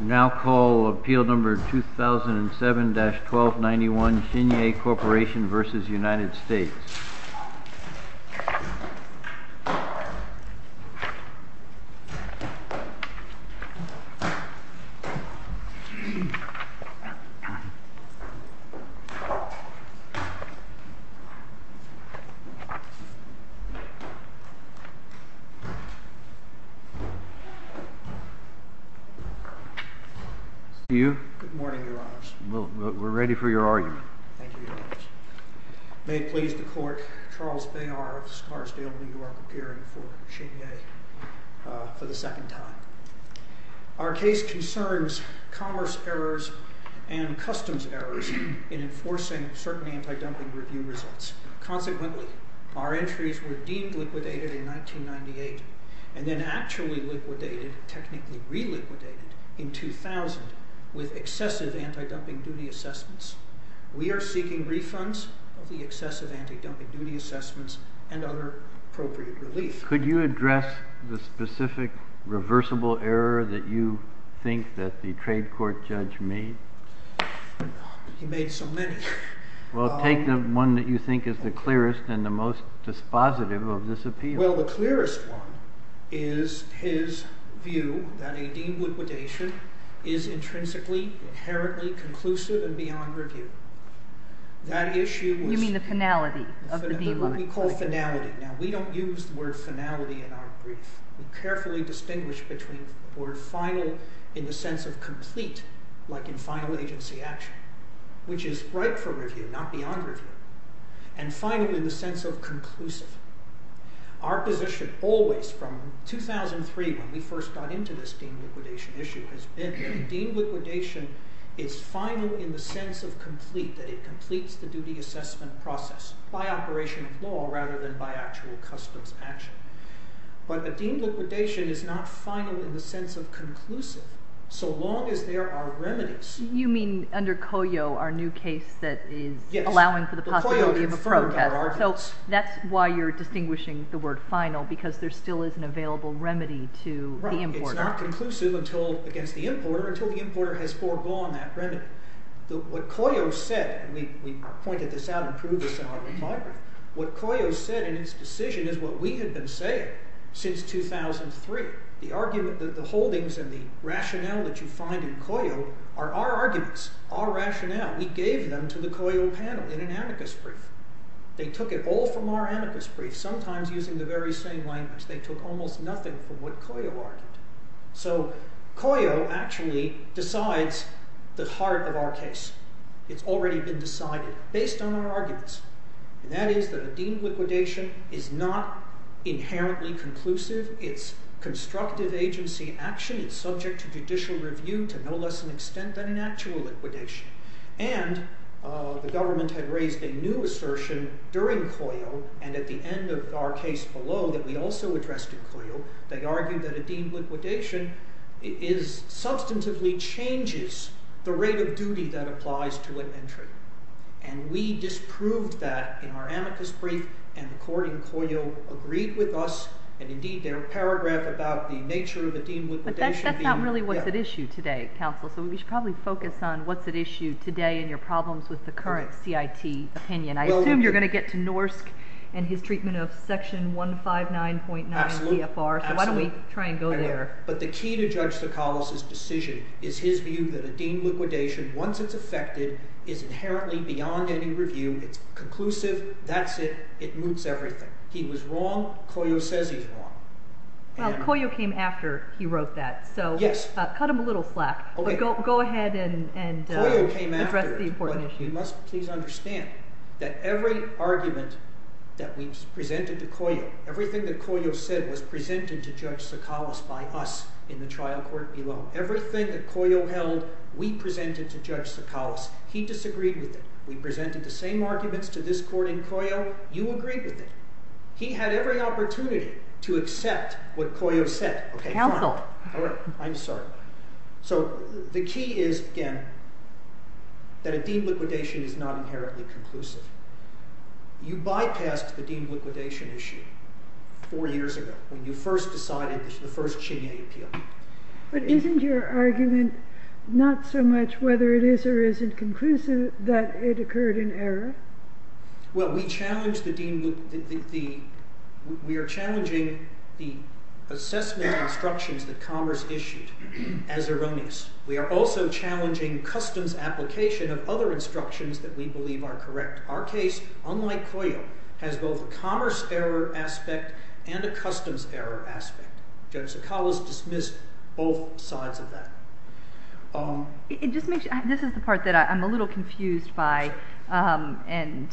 Now call Appeal No. 2007-1291 Shinyei Corp v. United States Good morning, Your Honors. We're ready for your argument. Thank you, Your Honors. May it please the Court, Charles Bayard of Scarsdale, New York, appearing for Shinyei for the second time. Our case concerns commerce errors and customs errors in enforcing certain anti-dumping review results. Consequently, our entries were deemed liquidated in 1998 and then actually liquidated, technically re-liquidated, in 2000 with excessive anti-dumping duty assessments. We are seeking refunds of the excessive anti-dumping duty assessments and other appropriate relief. Could you address the specific reversible error that you think that the trade court judge made? He made so many. Well, take the one that you think is the clearest and the most dispositive of this appeal. Well, the clearest one is his view that a deemed liquidation is intrinsically, inherently conclusive and beyond review. You mean the finality of the D-line? We call it finality. Now, we don't use the word finality in our brief. We carefully distinguish between the word final in the sense of complete, like in final agency action, which is right for review, not beyond review. And final in the sense of conclusive. Our position always from 2003 when we first got into this deemed liquidation issue has been that deemed liquidation is final in the sense of complete, that it completes the duty assessment process by operation of law rather than by actual customs action. But a deemed liquidation is not final in the sense of conclusive so long as there are remedies. You mean under COYO, our new case that is allowing for the possibility of a protest. So that's why you're distinguishing the word final because there still is an available remedy to the importer. It's not conclusive against the importer until the importer has foregone that remedy. What COYO said, and we pointed this out and proved this in our report, what COYO said in its decision is what we had been saying since 2003. The holdings and the rationale that you find in COYO are our arguments, our rationale. We gave them to the COYO panel in an amicus brief. They took it all from our amicus brief, sometimes using the very same language. They took almost nothing from what COYO argued. So COYO actually decides the heart of our case. It's already been decided based on our arguments. And that is that a deemed liquidation is not inherently conclusive. It's constructive agency action. It's subject to judicial review to no less an extent than an actual liquidation. And the government had raised a new assertion during COYO and at the end of our case below that we also addressed in COYO. They argued that a deemed liquidation substantively changes the rate of duty that applies to an entry. And we disproved that in our amicus brief. And according to COYO, agreed with us, and indeed their paragraph about the nature of a deemed liquidation. But that's not really what's at issue today, counsel. So we should probably focus on what's at issue today and your problems with the current CIT opinion. I assume you're going to get to Norsk and his treatment of section 159.9 PFR. So why don't we try and go there? But the key to Judge Tsoukalos' decision is his view that a deemed liquidation, once it's effected, is inherently beyond any review. It's conclusive. That's it. It moots everything. He was wrong. COYO says he's wrong. Well, COYO came after he wrote that. So cut him a little slack. Go ahead and address the important issue. You must please understand that every argument that we presented to COYO, everything that COYO said was presented to Judge Tsoukalos by us in the trial court below. Everything that COYO held, we presented to Judge Tsoukalos. He disagreed with it. We presented the same arguments to this court in COYO. You agreed with it. He had every opportunity to accept what COYO said. Counsel. I'm sorry. So the key is, again, that a deemed liquidation is not inherently conclusive. You bypassed the deemed liquidation issue four years ago when you first decided the first Chinyay appeal. But isn't your argument not so much whether it is or isn't conclusive that it occurred in error? Well, we are challenging the assessment instructions that Commerce issued as erroneous. We are also challenging customs application of other instructions that we believe are correct. Our case, unlike COYO, has both a commerce error aspect and a customs error aspect. Judge Tsoukalos dismissed both sides of that. This is the part that I'm a little confused by, and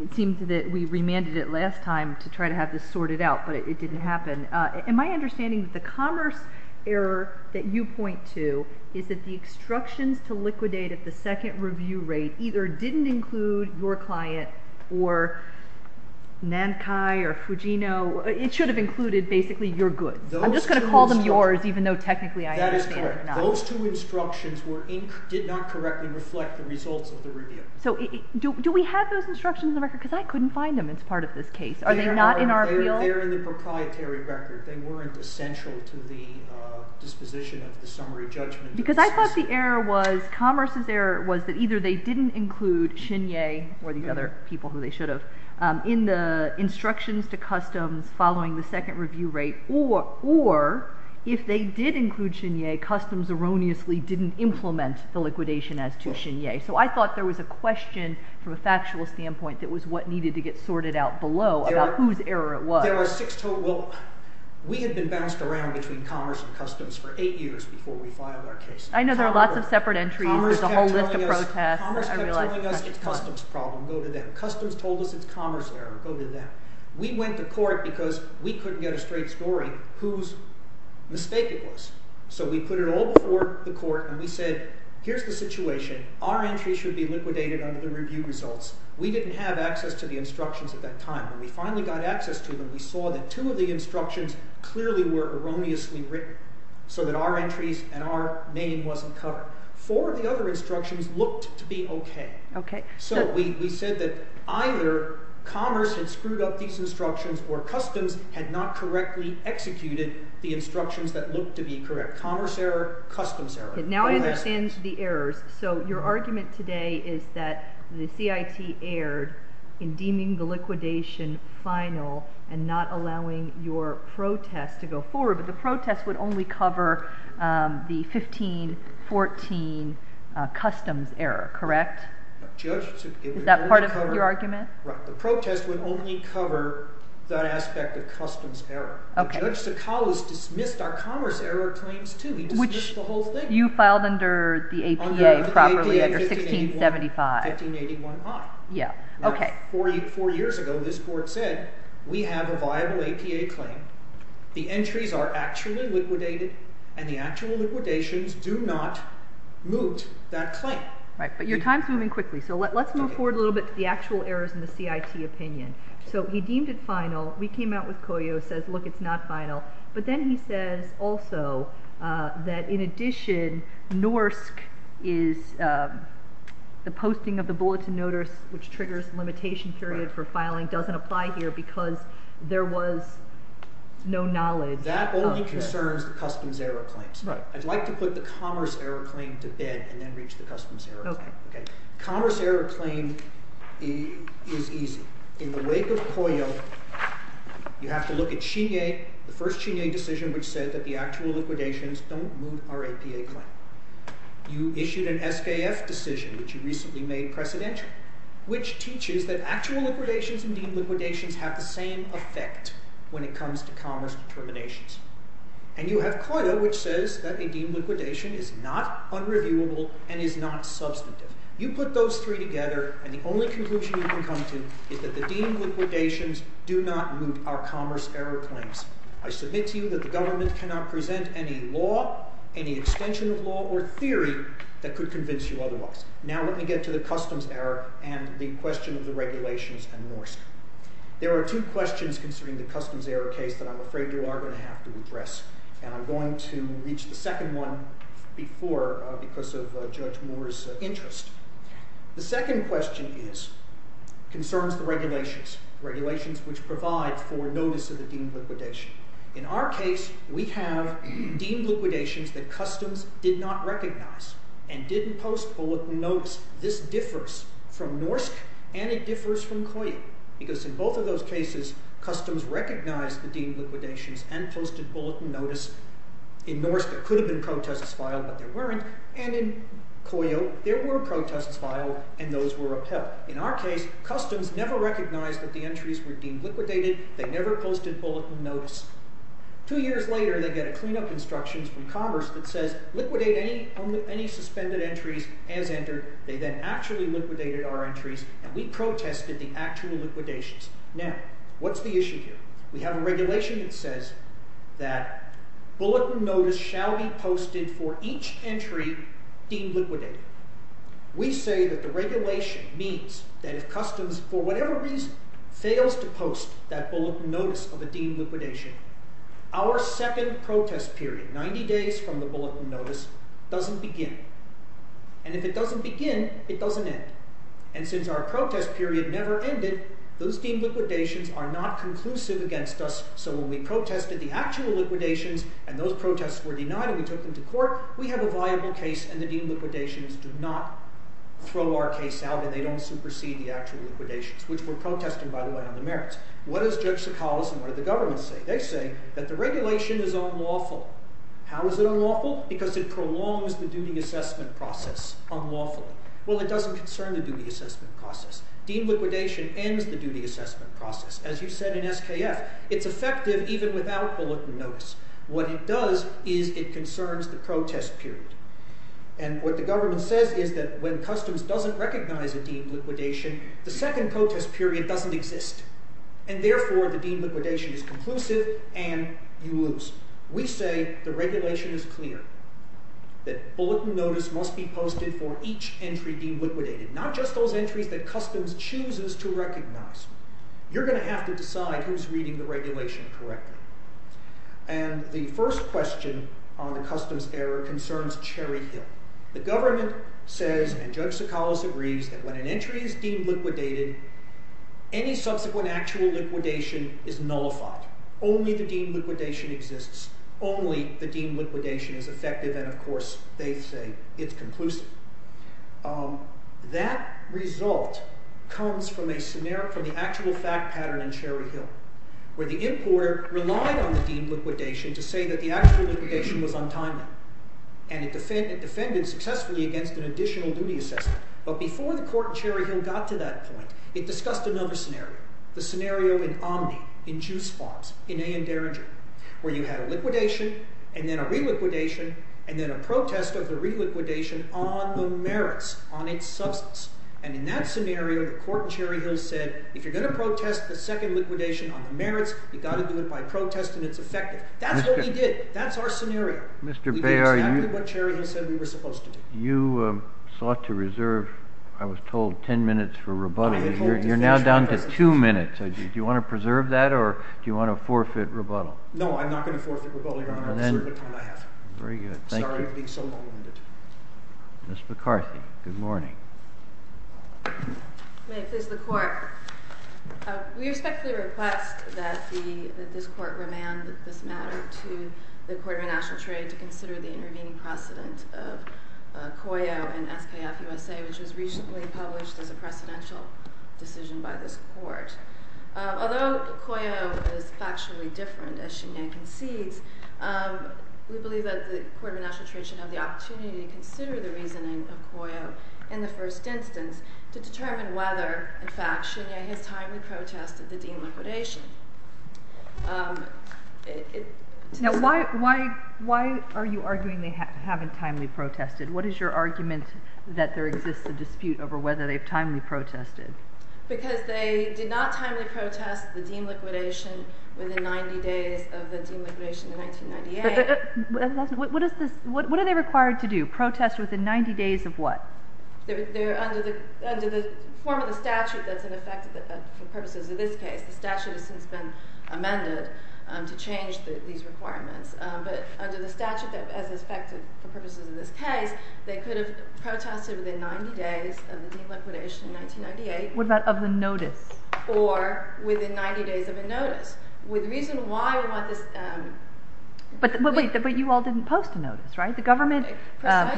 it seems that we remanded it last time to try to have this sorted out, but it didn't happen. In my understanding, the commerce error that you point to is that the instructions to liquidate at the second review rate either didn't include your client or Nankai or Fugino. It should have included basically your goods. I'm just going to call them yours, even though technically I understand they're not. That is correct. Those two instructions did not correctly reflect the results of the review. So do we have those instructions in the record? Because I couldn't find them as part of this case. Are they not in our appeal? They're in the proprietary record. They weren't essential to the disposition of the summary judgment. Because I thought the error was, Commerce's error, was that either they didn't include Chinyay or these other people who they should have in the instructions to customs following the second review rate or if they did include Chinyay, Customs erroneously didn't implement the liquidation as to Chinyay. So I thought there was a question from a factual standpoint that was what needed to get sorted out below about whose error it was. There were six total. Well, we had been bounced around between Commerce and Customs for eight years before we filed our case. I know there are lots of separate entries. There's a whole list of protests. Commerce kept telling us it's Customs' problem. Go to them. Customs told us it's Commerce' error. Go to them. We went to court because we couldn't get a straight story whose mistake it was. So we put it all before the court, and we said, here's the situation. Our entries should be liquidated under the review results. We didn't have access to the instructions at that time. When we finally got access to them, we saw that two of the instructions clearly were erroneously written so that our entries and our name wasn't covered. Four of the other instructions looked to be okay. So we said that either Commerce had screwed up these instructions or Customs had not correctly executed the instructions that looked to be correct. Commerce' error, Customs' error. Now I understand the errors. So your argument today is that the CIT erred in deeming the liquidation final and not allowing your protest to go forward, but the protest would only cover the 15-14 Customs' error, correct? Is that part of your argument? Right. The protest would only cover that aspect of Customs' error. Judge Sakala's dismissed our Commerce' error claims, too. He dismissed the whole thing. Which you filed under the APA properly, under 1675. Under the APA, 1581I. Four years ago, this court said, we have a viable APA claim. The entries are actually liquidated, and the actual liquidations do not moot that claim. Right, but your time's moving quickly, so let's move forward a little bit to the actual errors in the CIT opinion. So he deemed it final. We came out with Coyote and said, look, it's not final. But then he says also that in addition, NORSC is the posting of the Bulletin Notice, which triggers the limitation period for filing, doesn't apply here because there was no knowledge. That only concerns the Customs' error claims. Right. I'd like to put the Commerce' error claim to bed and then reach the Customs' error claim. Okay. Commerce' error claim is easy. In the wake of Coyote, you have to look at Chignet, the first Chignet decision which said that the actual liquidations don't moot our APA claim. You issued an SKF decision, which you recently made precedential, which teaches that actual liquidations and deemed liquidations have the same effect when it comes to Commerce determinations. And you have Coyote, which says that a deemed liquidation is not unreviewable and is not substantive. You put those three together, and the only conclusion you can come to is that the deemed liquidations do not moot our Commerce' error claims. I submit to you that the government cannot present any law, any extension of law or theory that could convince you otherwise. Now let me get to the Customs' error and the question of the regulations and NORSCA. There are two questions concerning the Customs' error case that I'm afraid you are going to have to address, and I'm going to reach the second one before because of Judge Moore's interest. The second question concerns the regulations, regulations which provide for notice of the deemed liquidation. In our case, we have deemed liquidations that Customs did not recognize and didn't post bulletin notes. This differs from NORSC and it differs from Coyote because in both of those cases, Customs recognized the deemed liquidations and posted bulletin notice. In NORSC, there could have been protests filed, but there weren't. And in Coyote, there were protests filed and those were upheld. In our case, Customs never recognized that the entries were deemed liquidated. They never posted bulletin notice. Two years later, they get a cleanup instruction from Commerce that says liquidate any suspended entries as entered. They then actually liquidated our entries and we protested the actual liquidations. Now, what's the issue here? We have a regulation that says that bulletin notice shall be posted for each entry deemed liquidated. We say that the regulation means that if Customs, for whatever reason, fails to post that bulletin notice of a deemed liquidation, our second protest period, 90 days from the bulletin notice, doesn't begin. And if it doesn't begin, it doesn't end. And since our protest period never ended, those deemed liquidations are not conclusive against us, so when we protested the actual liquidations and those protests were denied and we took them to court, we have a viable case and the deemed liquidations do not throw our case out and they don't supersede the actual liquidations, which we're protesting, by the way, on the merits. What does Judge Sokalis and what does the government say? They say that the regulation is unlawful. How is it unlawful? Because it prolongs the duty assessment process unlawfully. Well, it doesn't concern the duty assessment process. Deemed liquidation ends the duty assessment process. As you said in SKF, it's effective even without bulletin notice. What it does is it concerns the protest period. And what the government says is that when Customs doesn't recognize a deemed liquidation, the second protest period doesn't exist, and therefore the deemed liquidation is conclusive and you lose. We say the regulation is clear, that bulletin notice must be posted for each entry deemed liquidated, not just those entries that Customs chooses to recognize. You're going to have to decide who's reading the regulation correctly. And the first question on the Customs error concerns Cherry Hill. The government says, and Judge Sokalis agrees, that when an entry is deemed liquidated, any subsequent actual liquidation is nullified. Only the deemed liquidation exists. Only the deemed liquidation is effective, and, of course, they say it's conclusive. That result comes from the actual fact pattern in Cherry Hill, where the importer relied on the deemed liquidation to say that the actual liquidation was untimely. And it defended successfully against an additional duty assessment. But before the Court in Cherry Hill got to that point, it discussed another scenario, the scenario in Omni, in Juice Farms, in A.N. Derringer, where you had a liquidation and then a reliquidation and then a protest of the reliquidation on the merits, on its substance. And in that scenario, the Court in Cherry Hill said, if you're going to protest the second liquidation on the merits, you've got to do it by protest and it's effective. That's what we did. That's our scenario. Mr. Bayer, you sought to reserve, I was told, 10 minutes for rebuttal. You're now down to two minutes. Do you want to preserve that or do you want to forfeit rebuttal? No, I'm not going to forfeit rebuttal, Your Honor. I'll reserve the time I have. Very good. Thank you. Sorry to be so long-winded. Ms. McCarthy, good morning. May it please the Court. We respectfully request that this Court remand this matter to the Court of International Trade to consider the intervening precedent of COYO and SKF-USA, which was recently published as a precedential decision by this Court. Although COYO is factually different, as she now concedes, we believe that the Court of International Trade should have the opportunity to consider the reasoning of COYO in the first instance to determine whether, in fact, Shinya has timely protested the deem liquidation. Now, why are you arguing they haven't timely protested? What is your argument that there exists a dispute over whether they've timely protested? Because they did not timely protest the deem liquidation within 90 days of the deem liquidation in 1998. What are they required to do? Protest within 90 days of what? Under the form of the statute that's in effect for purposes of this case, the statute has since been amended to change these requirements, but under the statute that's in effect for purposes of this case, they could have protested within 90 days of the deem liquidation in 1998. What about of the notice? Or within 90 days of a notice. The reason why we want this... But you all didn't post a notice, right? The government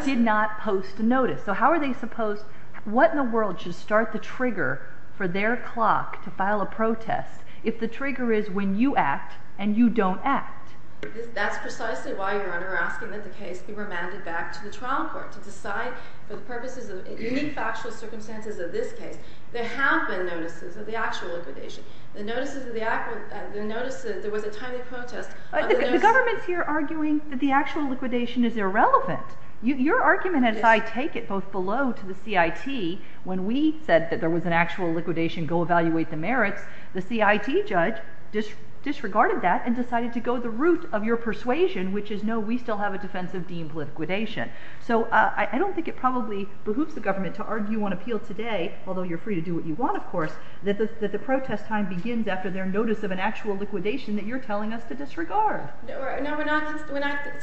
did not post a notice. So how are they supposed... What in the world should start the trigger for their clock to file a protest if the trigger is when you act and you don't act? That's precisely why you're asking that the case be remanded back to the trial court to decide for the purposes of unique factual circumstances of this case. There have been notices of the actual liquidation. The notice that there was a timely protest... The government's here arguing that the actual liquidation is irrelevant. Your argument, as I take it, both below to the CIT, when we said that there was an actual liquidation, go evaluate the merits, the CIT judge disregarded that and decided to go the route of your persuasion, which is no, we still have a defense of deemed liquidation. So I don't think it probably behooves the government to argue on appeal today, although you're free to do what you want, of course, that the protest time begins after their notice of an actual liquidation that you're telling us to disregard. No, we're not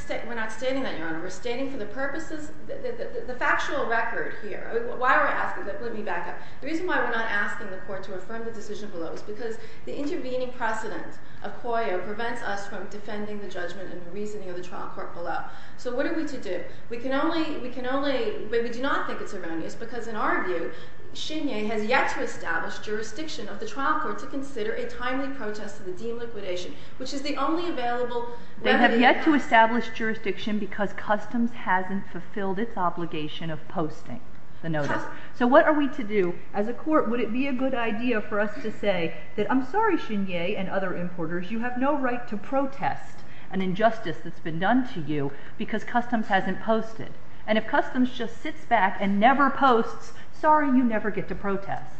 stating that, Your Honor. We're stating for the purposes of the factual record here. Why are we asking that? Let me back up. The reason why we're not asking the court to affirm the decision below is because the intervening precedent of COIO prevents us from defending the judgment and the reasoning of the trial court below. So what are we to do? We do not think it's erroneous because, in our view, Chenier has yet to establish jurisdiction of the trial court to consider a timely protest of the deemed liquidation, which is the only available remedy. They have yet to establish jurisdiction because customs hasn't fulfilled its obligation of posting the notice. So what are we to do? As a court, would it be a good idea for us to say that I'm sorry, Chenier and other importers, you have no right to protest an injustice that's been done to you because customs hasn't posted. And if customs just sits back and never posts, sorry, you never get to protest.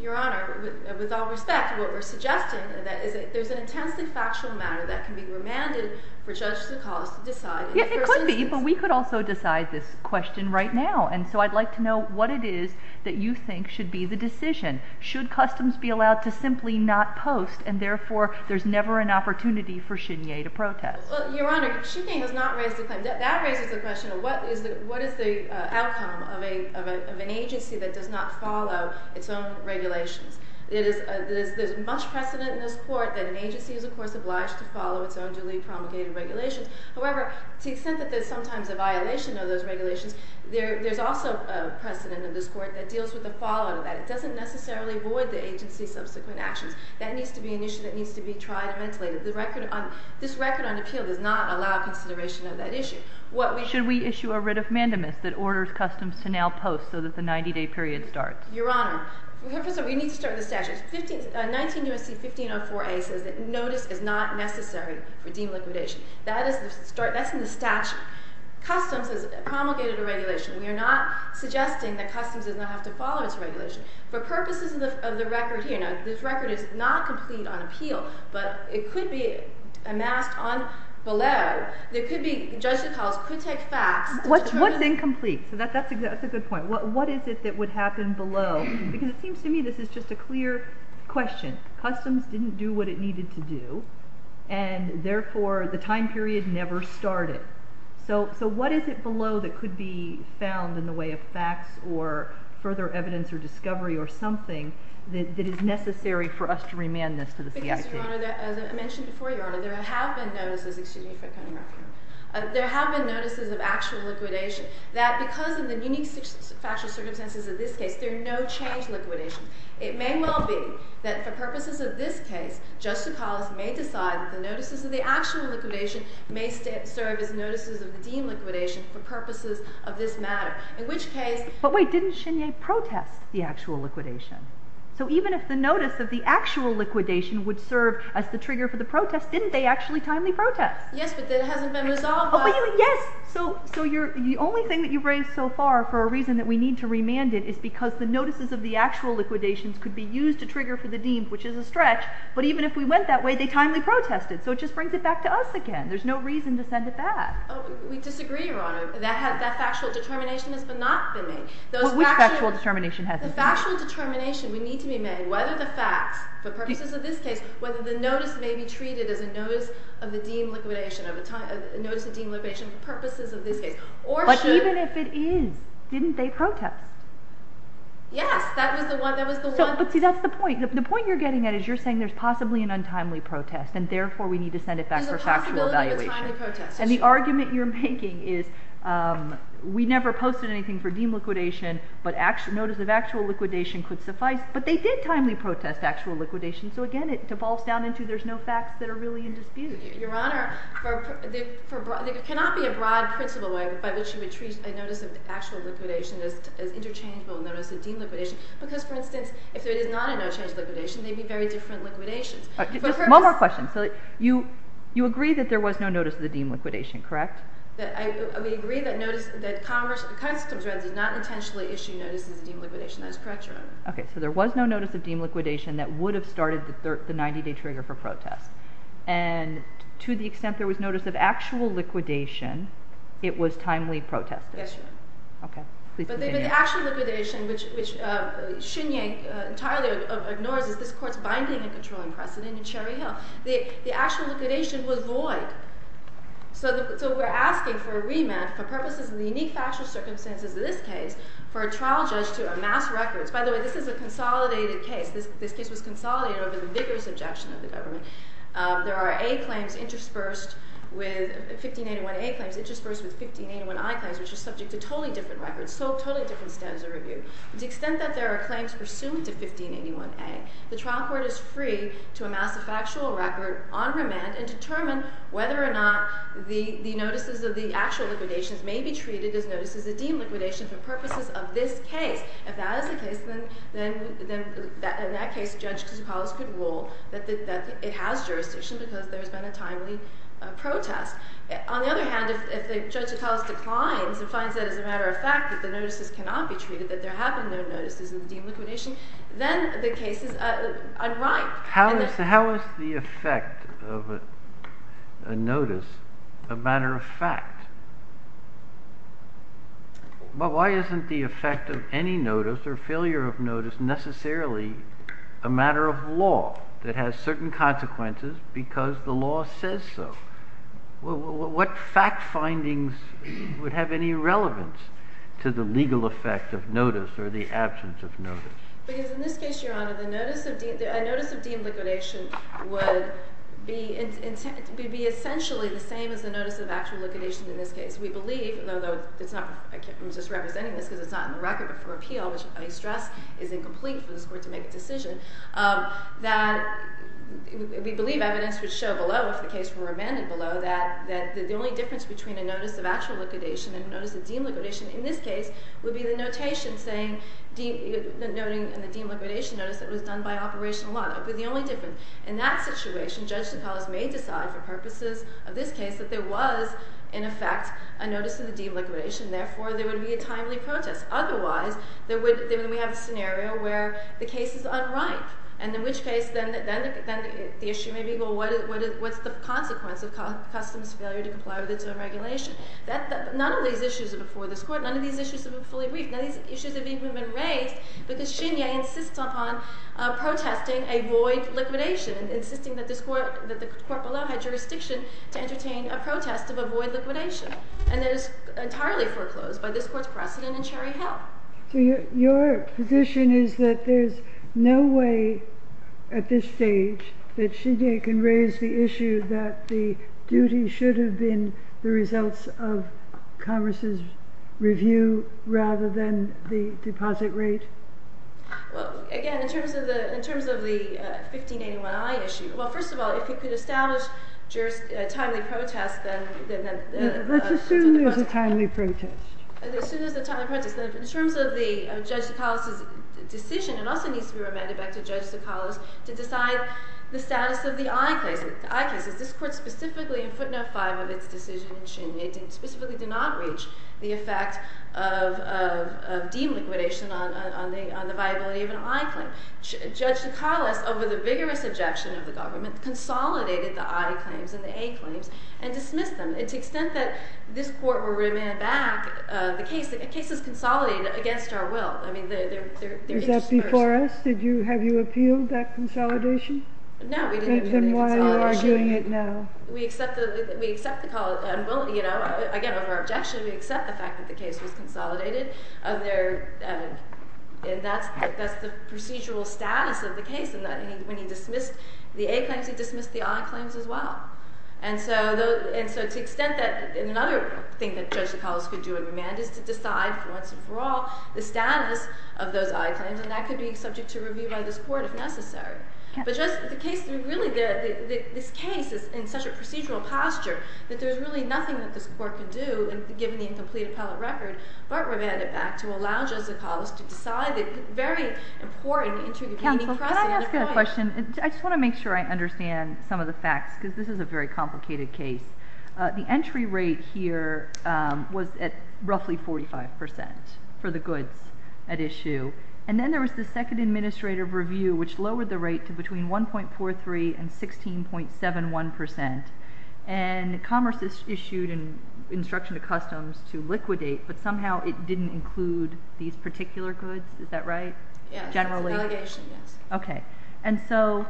Your Honor, with all respect, what we're suggesting is that there's an intensely factual matter that can be remanded for judges of the cause to decide. It could be, but we could also decide this question right now. And so I'd like to know what it is that you think should be the decision. Should customs be allowed to simply not post and therefore there's never an opportunity for Chenier to protest? Your Honor, Chenier has not raised a claim. That raises the question of what is the outcome of an agency that does not follow its own regulations. There's much precedent in this court that an agency is, of course, obliged to follow its own duly promulgated regulations. However, to the extent that there's sometimes a violation of those regulations, there's also precedent in this court that deals with the following of that. It doesn't necessarily void the agency's subsequent actions. That needs to be an issue that needs to be tried and ventilated. This record on appeal does not allow consideration of that issue. Should we issue a writ of mandamus that orders customs to now post so that the 90-day period starts? Your Honor, we need to start with the statute. 19 U.S.C. 1504A says that notice is not necessary for deemed liquidation. That's in the statute. Customs has promulgated a regulation. We are not suggesting that customs does not have to follow its regulation. For purposes of the record here, this record is not complete on appeal, but it could be amassed below. There could be, Judge DeCaul's could take facts. What's incomplete? That's a good point. What is it that would happen below? Because it seems to me this is just a clear question. Customs didn't do what it needed to do, and therefore the time period never started. So what is it below that could be found in the way of facts or further evidence or discovery or something that is necessary for us to remand this to the CIT? Because, Your Honor, as I mentioned before, Your Honor, there have been notices of actual liquidation. That because of the unique factual circumstances of this case, there are no changed liquidations. It may well be that for purposes of this case, Judge DeCaul's may decide that the notices of the actual liquidation may serve as notices of the deemed liquidation for purposes of this matter, in which case... But wait, didn't Chenier protest the actual liquidation? So even if the notice of the actual liquidation would serve as the trigger for the protest, didn't they actually timely protest? Yes, but that hasn't been resolved by... Yes, so the only thing that you've raised so far for a reason that we need to remand it is because the notices of the actual liquidations could be used to trigger for the deemed, which is a stretch, but even if we went that way, they timely protested, so it just brings it back to us again. There's no reason to send it back. We disagree, Your Honor. That factual determination has not been made. Which factual determination hasn't been made? The factual determination would need to be made whether the facts for purposes of this case, whether the notice may be treated as a notice of the deemed liquidation, a notice of deemed liquidation for purposes of this case, or should... But even if it is, didn't they protest? Yes, that was the one... But see, that's the point. The point you're getting at is you're saying there's possibly an untimely protest, and therefore we need to send it back for factual evaluation. There's a possibility of a timely protest. And the argument you're making is we never posted anything for deemed liquidation, but notice of actual liquidation could suffice, but they did timely protest actual liquidation, so again, it devolves down into there's no facts that are really in dispute. Your Honor, there cannot be a broad principle by which you would treat a notice of actual liquidation as interchangeable notice of deemed liquidation, because, for instance, if it is not a no-change liquidation, they'd be very different liquidations. Just one more question. You agree that there was no notice of the deemed liquidation, correct? We agree that Constable Dredd did not intentionally issue notices of deemed liquidation. That is correct, Your Honor. Okay, so there was no notice of deemed liquidation that would have started the 90-day trigger for protest. And to the extent there was notice of actual liquidation, it was timely protested. Yes, Your Honor. Okay, please continue. But the actual liquidation, which Xinyan entirely ignores, is this Court's binding and controlling precedent in Cherry Hill. The actual liquidation was void. So we're asking for a remand for purposes of the unique factual circumstances of this case for a trial judge to amass records. By the way, this is a consolidated case. This case was consolidated over the vigorous objection of the government. There are A claims interspersed with... 1581A claims interspersed with 1581I claims, which are subject to totally different records, so totally different standards of review. To the extent that there are claims pursuant to 1581A, the trial court is free to amass a factual record on remand and determine whether or not the notices of the actual liquidations may be treated as notices of deemed liquidation for purposes of this case. If that is the case, then in that case, Judge Tsoukalos could rule that it has jurisdiction because there's been a timely protest. On the other hand, if Judge Tsoukalos declines and finds that as a matter of fact that the notices cannot be treated, that there have been no notices of deemed liquidation, then the case is unripe. How is the effect of a notice a matter of fact? But why isn't the effect of any notice or failure of notice necessarily a matter of law that has certain consequences because the law says so? What fact findings would have any relevance to the legal effect of notice or the absence of notice? Because in this case, Your Honor, a notice of deemed liquidation would be essentially the same as a notice of actual liquidation in this case. We believe, although I'm just representing this because it's not in the record, but for appeal, which I stress is incomplete for this Court to make a decision, that we believe evidence would show below, if the case were remanded below, that the only difference between a notice of actual liquidation and a notice of deemed liquidation in this case would be the notation saying, noting in the deemed liquidation notice that it was done by operational law. That would be the only difference. In that situation, Judge Tsoukalos may decide for purposes of this case that there was, in effect, a notice of the deemed liquidation. Therefore, there would be a timely protest. Otherwise, then we have a scenario where the case is unright. And in which case, then the issue may be, well, what's the consequence of customers' failure to comply with its own regulation? None of these issues are before this Court. None of these issues have been fully briefed. None of these issues have even been raised because Shinyeh insists upon protesting a void liquidation and insisting that the court below had jurisdiction to entertain a protest of a void liquidation. And that is entirely foreclosed by this Court's precedent in Cherry Hill. So your position is that there's no way at this stage that Shinyeh can raise the issue that the duty should have been the results of Congress's review rather than the deposit rate? Well, again, in terms of the 1581i issue, well, first of all, if you could establish timely protest, then... Let's assume there's a timely protest. Assume there's a timely protest. In terms of Judge Sokolos' decision, it also needs to be remanded back to Judge Sokolos to decide the status of the i cases. This Court specifically in footnote 5 of its decision in Shinyeh specifically did not reach the effect of deemed liquidation on the viability of an i claim. Judge Sokolos, over the vigorous objection of the government, consolidated the i claims and the a claims and dismissed them. And to the extent that this Court will remand back the case, the case is consolidated against our will. Is that before us? Have you appealed that consolidation? No, we didn't appeal the consolidation. Then why are you arguing it now? Again, over our objection, we accept the fact that the case was consolidated. That's the procedural status of the case. When he dismissed the a claims, he dismissed the i claims as well. And so to the extent that... Another thing that Judge Sokolos could do in remand is to decide once and for all the status of those i claims, and that could be subject to review by this Court if necessary. But the case... This case is in such a procedural posture that there's really nothing that this Court could do, given the incomplete appellate record, but remand it back to allow Judge Sokolos to decide the very important... Counsel, can I ask you a question? I just want to make sure I understand some of the facts because this is a very complicated case. The entry rate here was at roughly 45% for the goods at issue. And then there was the second administrative review which lowered the rate to between 1.43% and 16.71%. And Commerce issued an instruction to Customs to liquidate, but somehow it didn't include these particular goods. Is that right? Yes. It's an allegation, yes. Okay. And so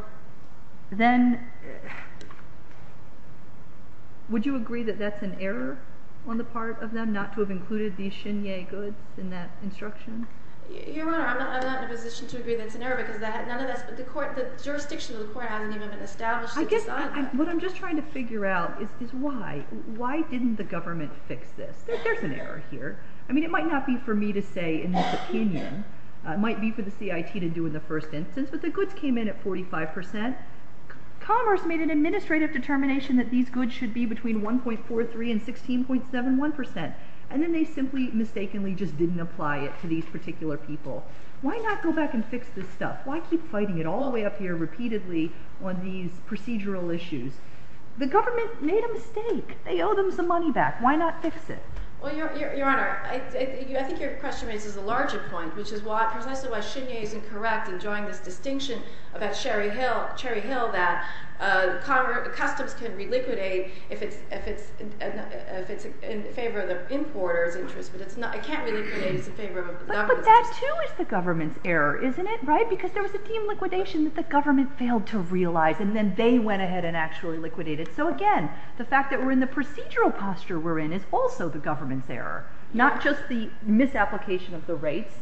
then... Would you agree that that's an error on the part of them not to have included these Shinye goods in that instruction? Your Honor, I'm not in a position to agree that it's an error because the jurisdiction of the Court hasn't even been established to decide that. What I'm just trying to figure out is why. Why didn't the government fix this? There's an error here. I mean, it might not be for me to say in this opinion. It might be for the CIT to do in the first instance, but the goods came in at 45%. Commerce made an administrative determination that these goods should be between 1.43% and 16.71%. And then they simply mistakenly just didn't apply it to these particular people. Why not go back and fix this stuff? Why keep fighting it all the way up here repeatedly on these procedural issues? The government made a mistake. They owe them some money back. Why not fix it? Well, Your Honor, I think your question raises a larger point, which is precisely why Shinye is incorrect in drawing this distinction about Cherry Hill that customs can reliquidate if it's in favor of the importer's interest, but it can't reliquidate if it's in favor of the government's interest. But that too is the government's error, isn't it? Because there was a team liquidation that the government failed to realize and then they went ahead and actually liquidated. So again, the fact that we're in the procedural posture we're in is also the government's error, not just the misapplication of the rates,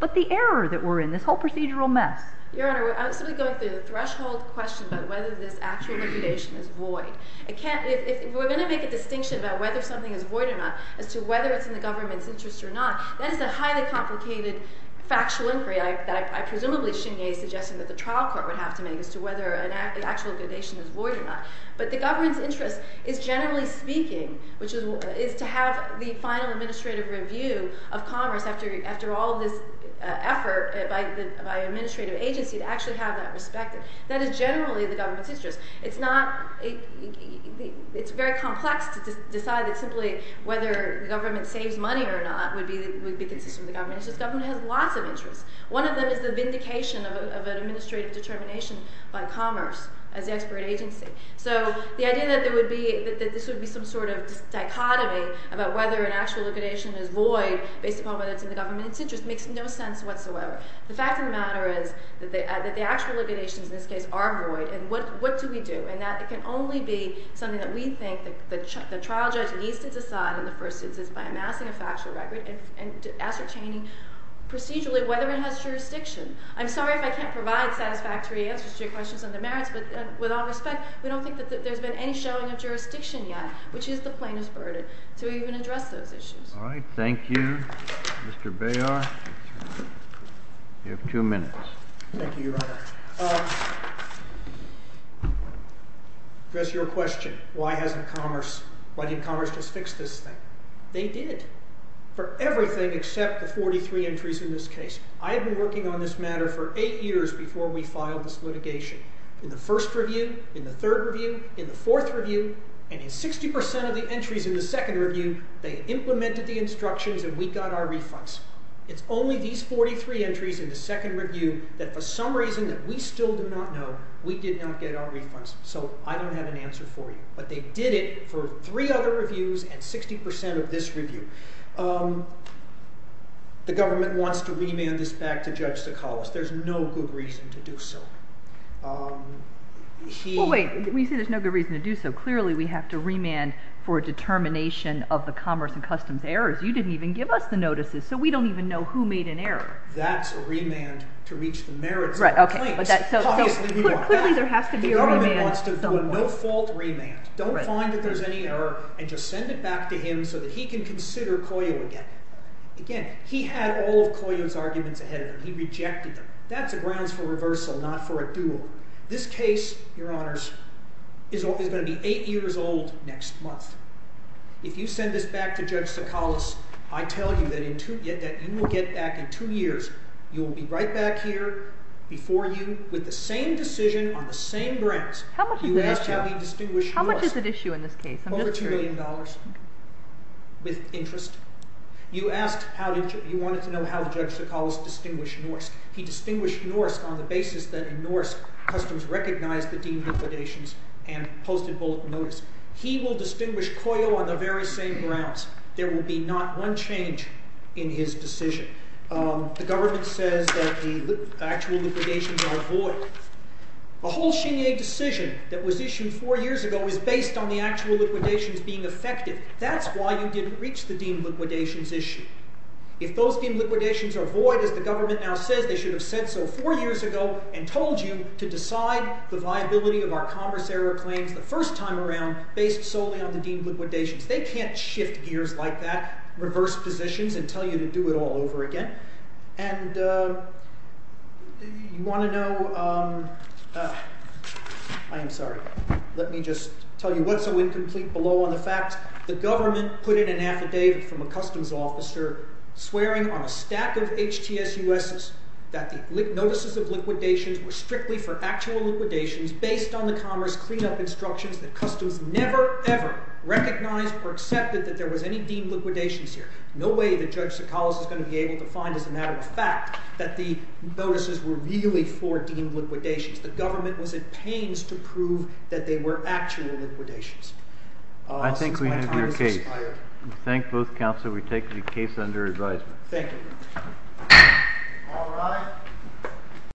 but the error that we're in, this whole procedural mess. Your Honor, I'm simply going through the threshold question about whether this actual liquidation is void. If we're going to make a distinction about whether something is void or not as to whether it's in the government's interest or not, that is a highly complicated factual inquiry that I presumably Shinye is suggesting that the trial court would have to make as to whether an actual liquidation is void or not. But the government's interest is generally speaking, which is to have the final administrative review of commerce after all this effort by an administrative agency to actually have that respected. That is generally the government's interest. It's very complex to decide that simply whether the government saves money or not would be consistent with the government's interest. The government has lots of interests. One of them is the vindication of an administrative determination by commerce as the expert agency. So the idea that this would be some sort of dichotomy about whether an actual liquidation is void based upon whether it's in the government's interest makes no sense whatsoever. The fact of the matter is that the actual liquidations in this case are void, and what do we do? And that can only be something that we think the trial judge needs to decide in the first instance by amassing a factual record and ascertaining procedurally whether it has jurisdiction. I'm sorry if I can't provide satisfactory answers to your questions on the merits, but with all respect, we don't think that there's been any showing of jurisdiction yet, which is the plaintiff's burden, to even address those issues. All right, thank you. Mr. Bayar, you have two minutes. Thank you, Your Honor. Just your question, why hasn't commerce, why didn't commerce just fix this thing? They did for everything except the 43 entries in this case. I've been working on this matter for eight years before we filed this litigation. In the first review, in the third review, in the fourth review, and in 60% of the entries in the second review, they implemented the instructions and we got our refunds. It's only these 43 entries in the second review that for some reason that we still do not know, we did not get our refunds, so I don't have an answer for you. But they did it for three other reviews and 60% of this review. The government wants to remand this back to Judge Sakalas. There's no good reason to do so. Well, wait, when you say there's no good reason to do so, clearly we have to remand for a determination of the commerce and customs errors. You didn't even give us the notices, so we don't even know who made an error. That's a remand to reach the merits of the claims. Clearly there has to be a remand. The government wants to do a no-fault remand. Don't find that there's any error and just send it back to him so that he can consider COYO again. Again, he had all of COYO's arguments ahead of him. He rejected them. That's a grounds for reversal, not for a duel. This case, Your Honors, is going to be 8 years old next month. If you send this back to Judge Sakalas, I tell you that you will get back in 2 years. You will be right back here before you with the same decision on the same grounds. How much is at issue in this case? More than $2 million with interest. You wanted to know how Judge Sakalas distinguished Norsk. He distinguished Norsk on the basis that in Norsk customs recognized the deemed liquidations and posted bulletin notice. He will distinguish COYO on the very same grounds. There will be not one change in his decision. The government says that the actual liquidations are void. The whole Xinye decision that was issued 4 years ago was based on the actual liquidations being effective. That's why you didn't reach the deemed liquidations issue. If those deemed liquidations are void, as the government now says, they should have said so 4 years ago and told you to decide the viability of our commerce error claims the first time around based solely on the deemed liquidations. They can't shift gears like that, reverse positions, and tell you to do it all over again. And you want to know, I am sorry. Let me just tell you what's so incomplete below on the facts. The government put in an affidavit from a customs officer swearing on a stack of HTSUSs that the notices of liquidations were strictly for actual liquidations based on the commerce cleanup instructions that customs never, ever recognized or accepted that there was any deemed liquidations here. No way that Judge Sakalas is going to be able to find as a matter of fact that the notices were really for deemed liquidations. The government was in pains to prove that they were actual liquidations. I think we have your case. Since my time has expired. We thank both counsel. We take the case under advisement. Thank you.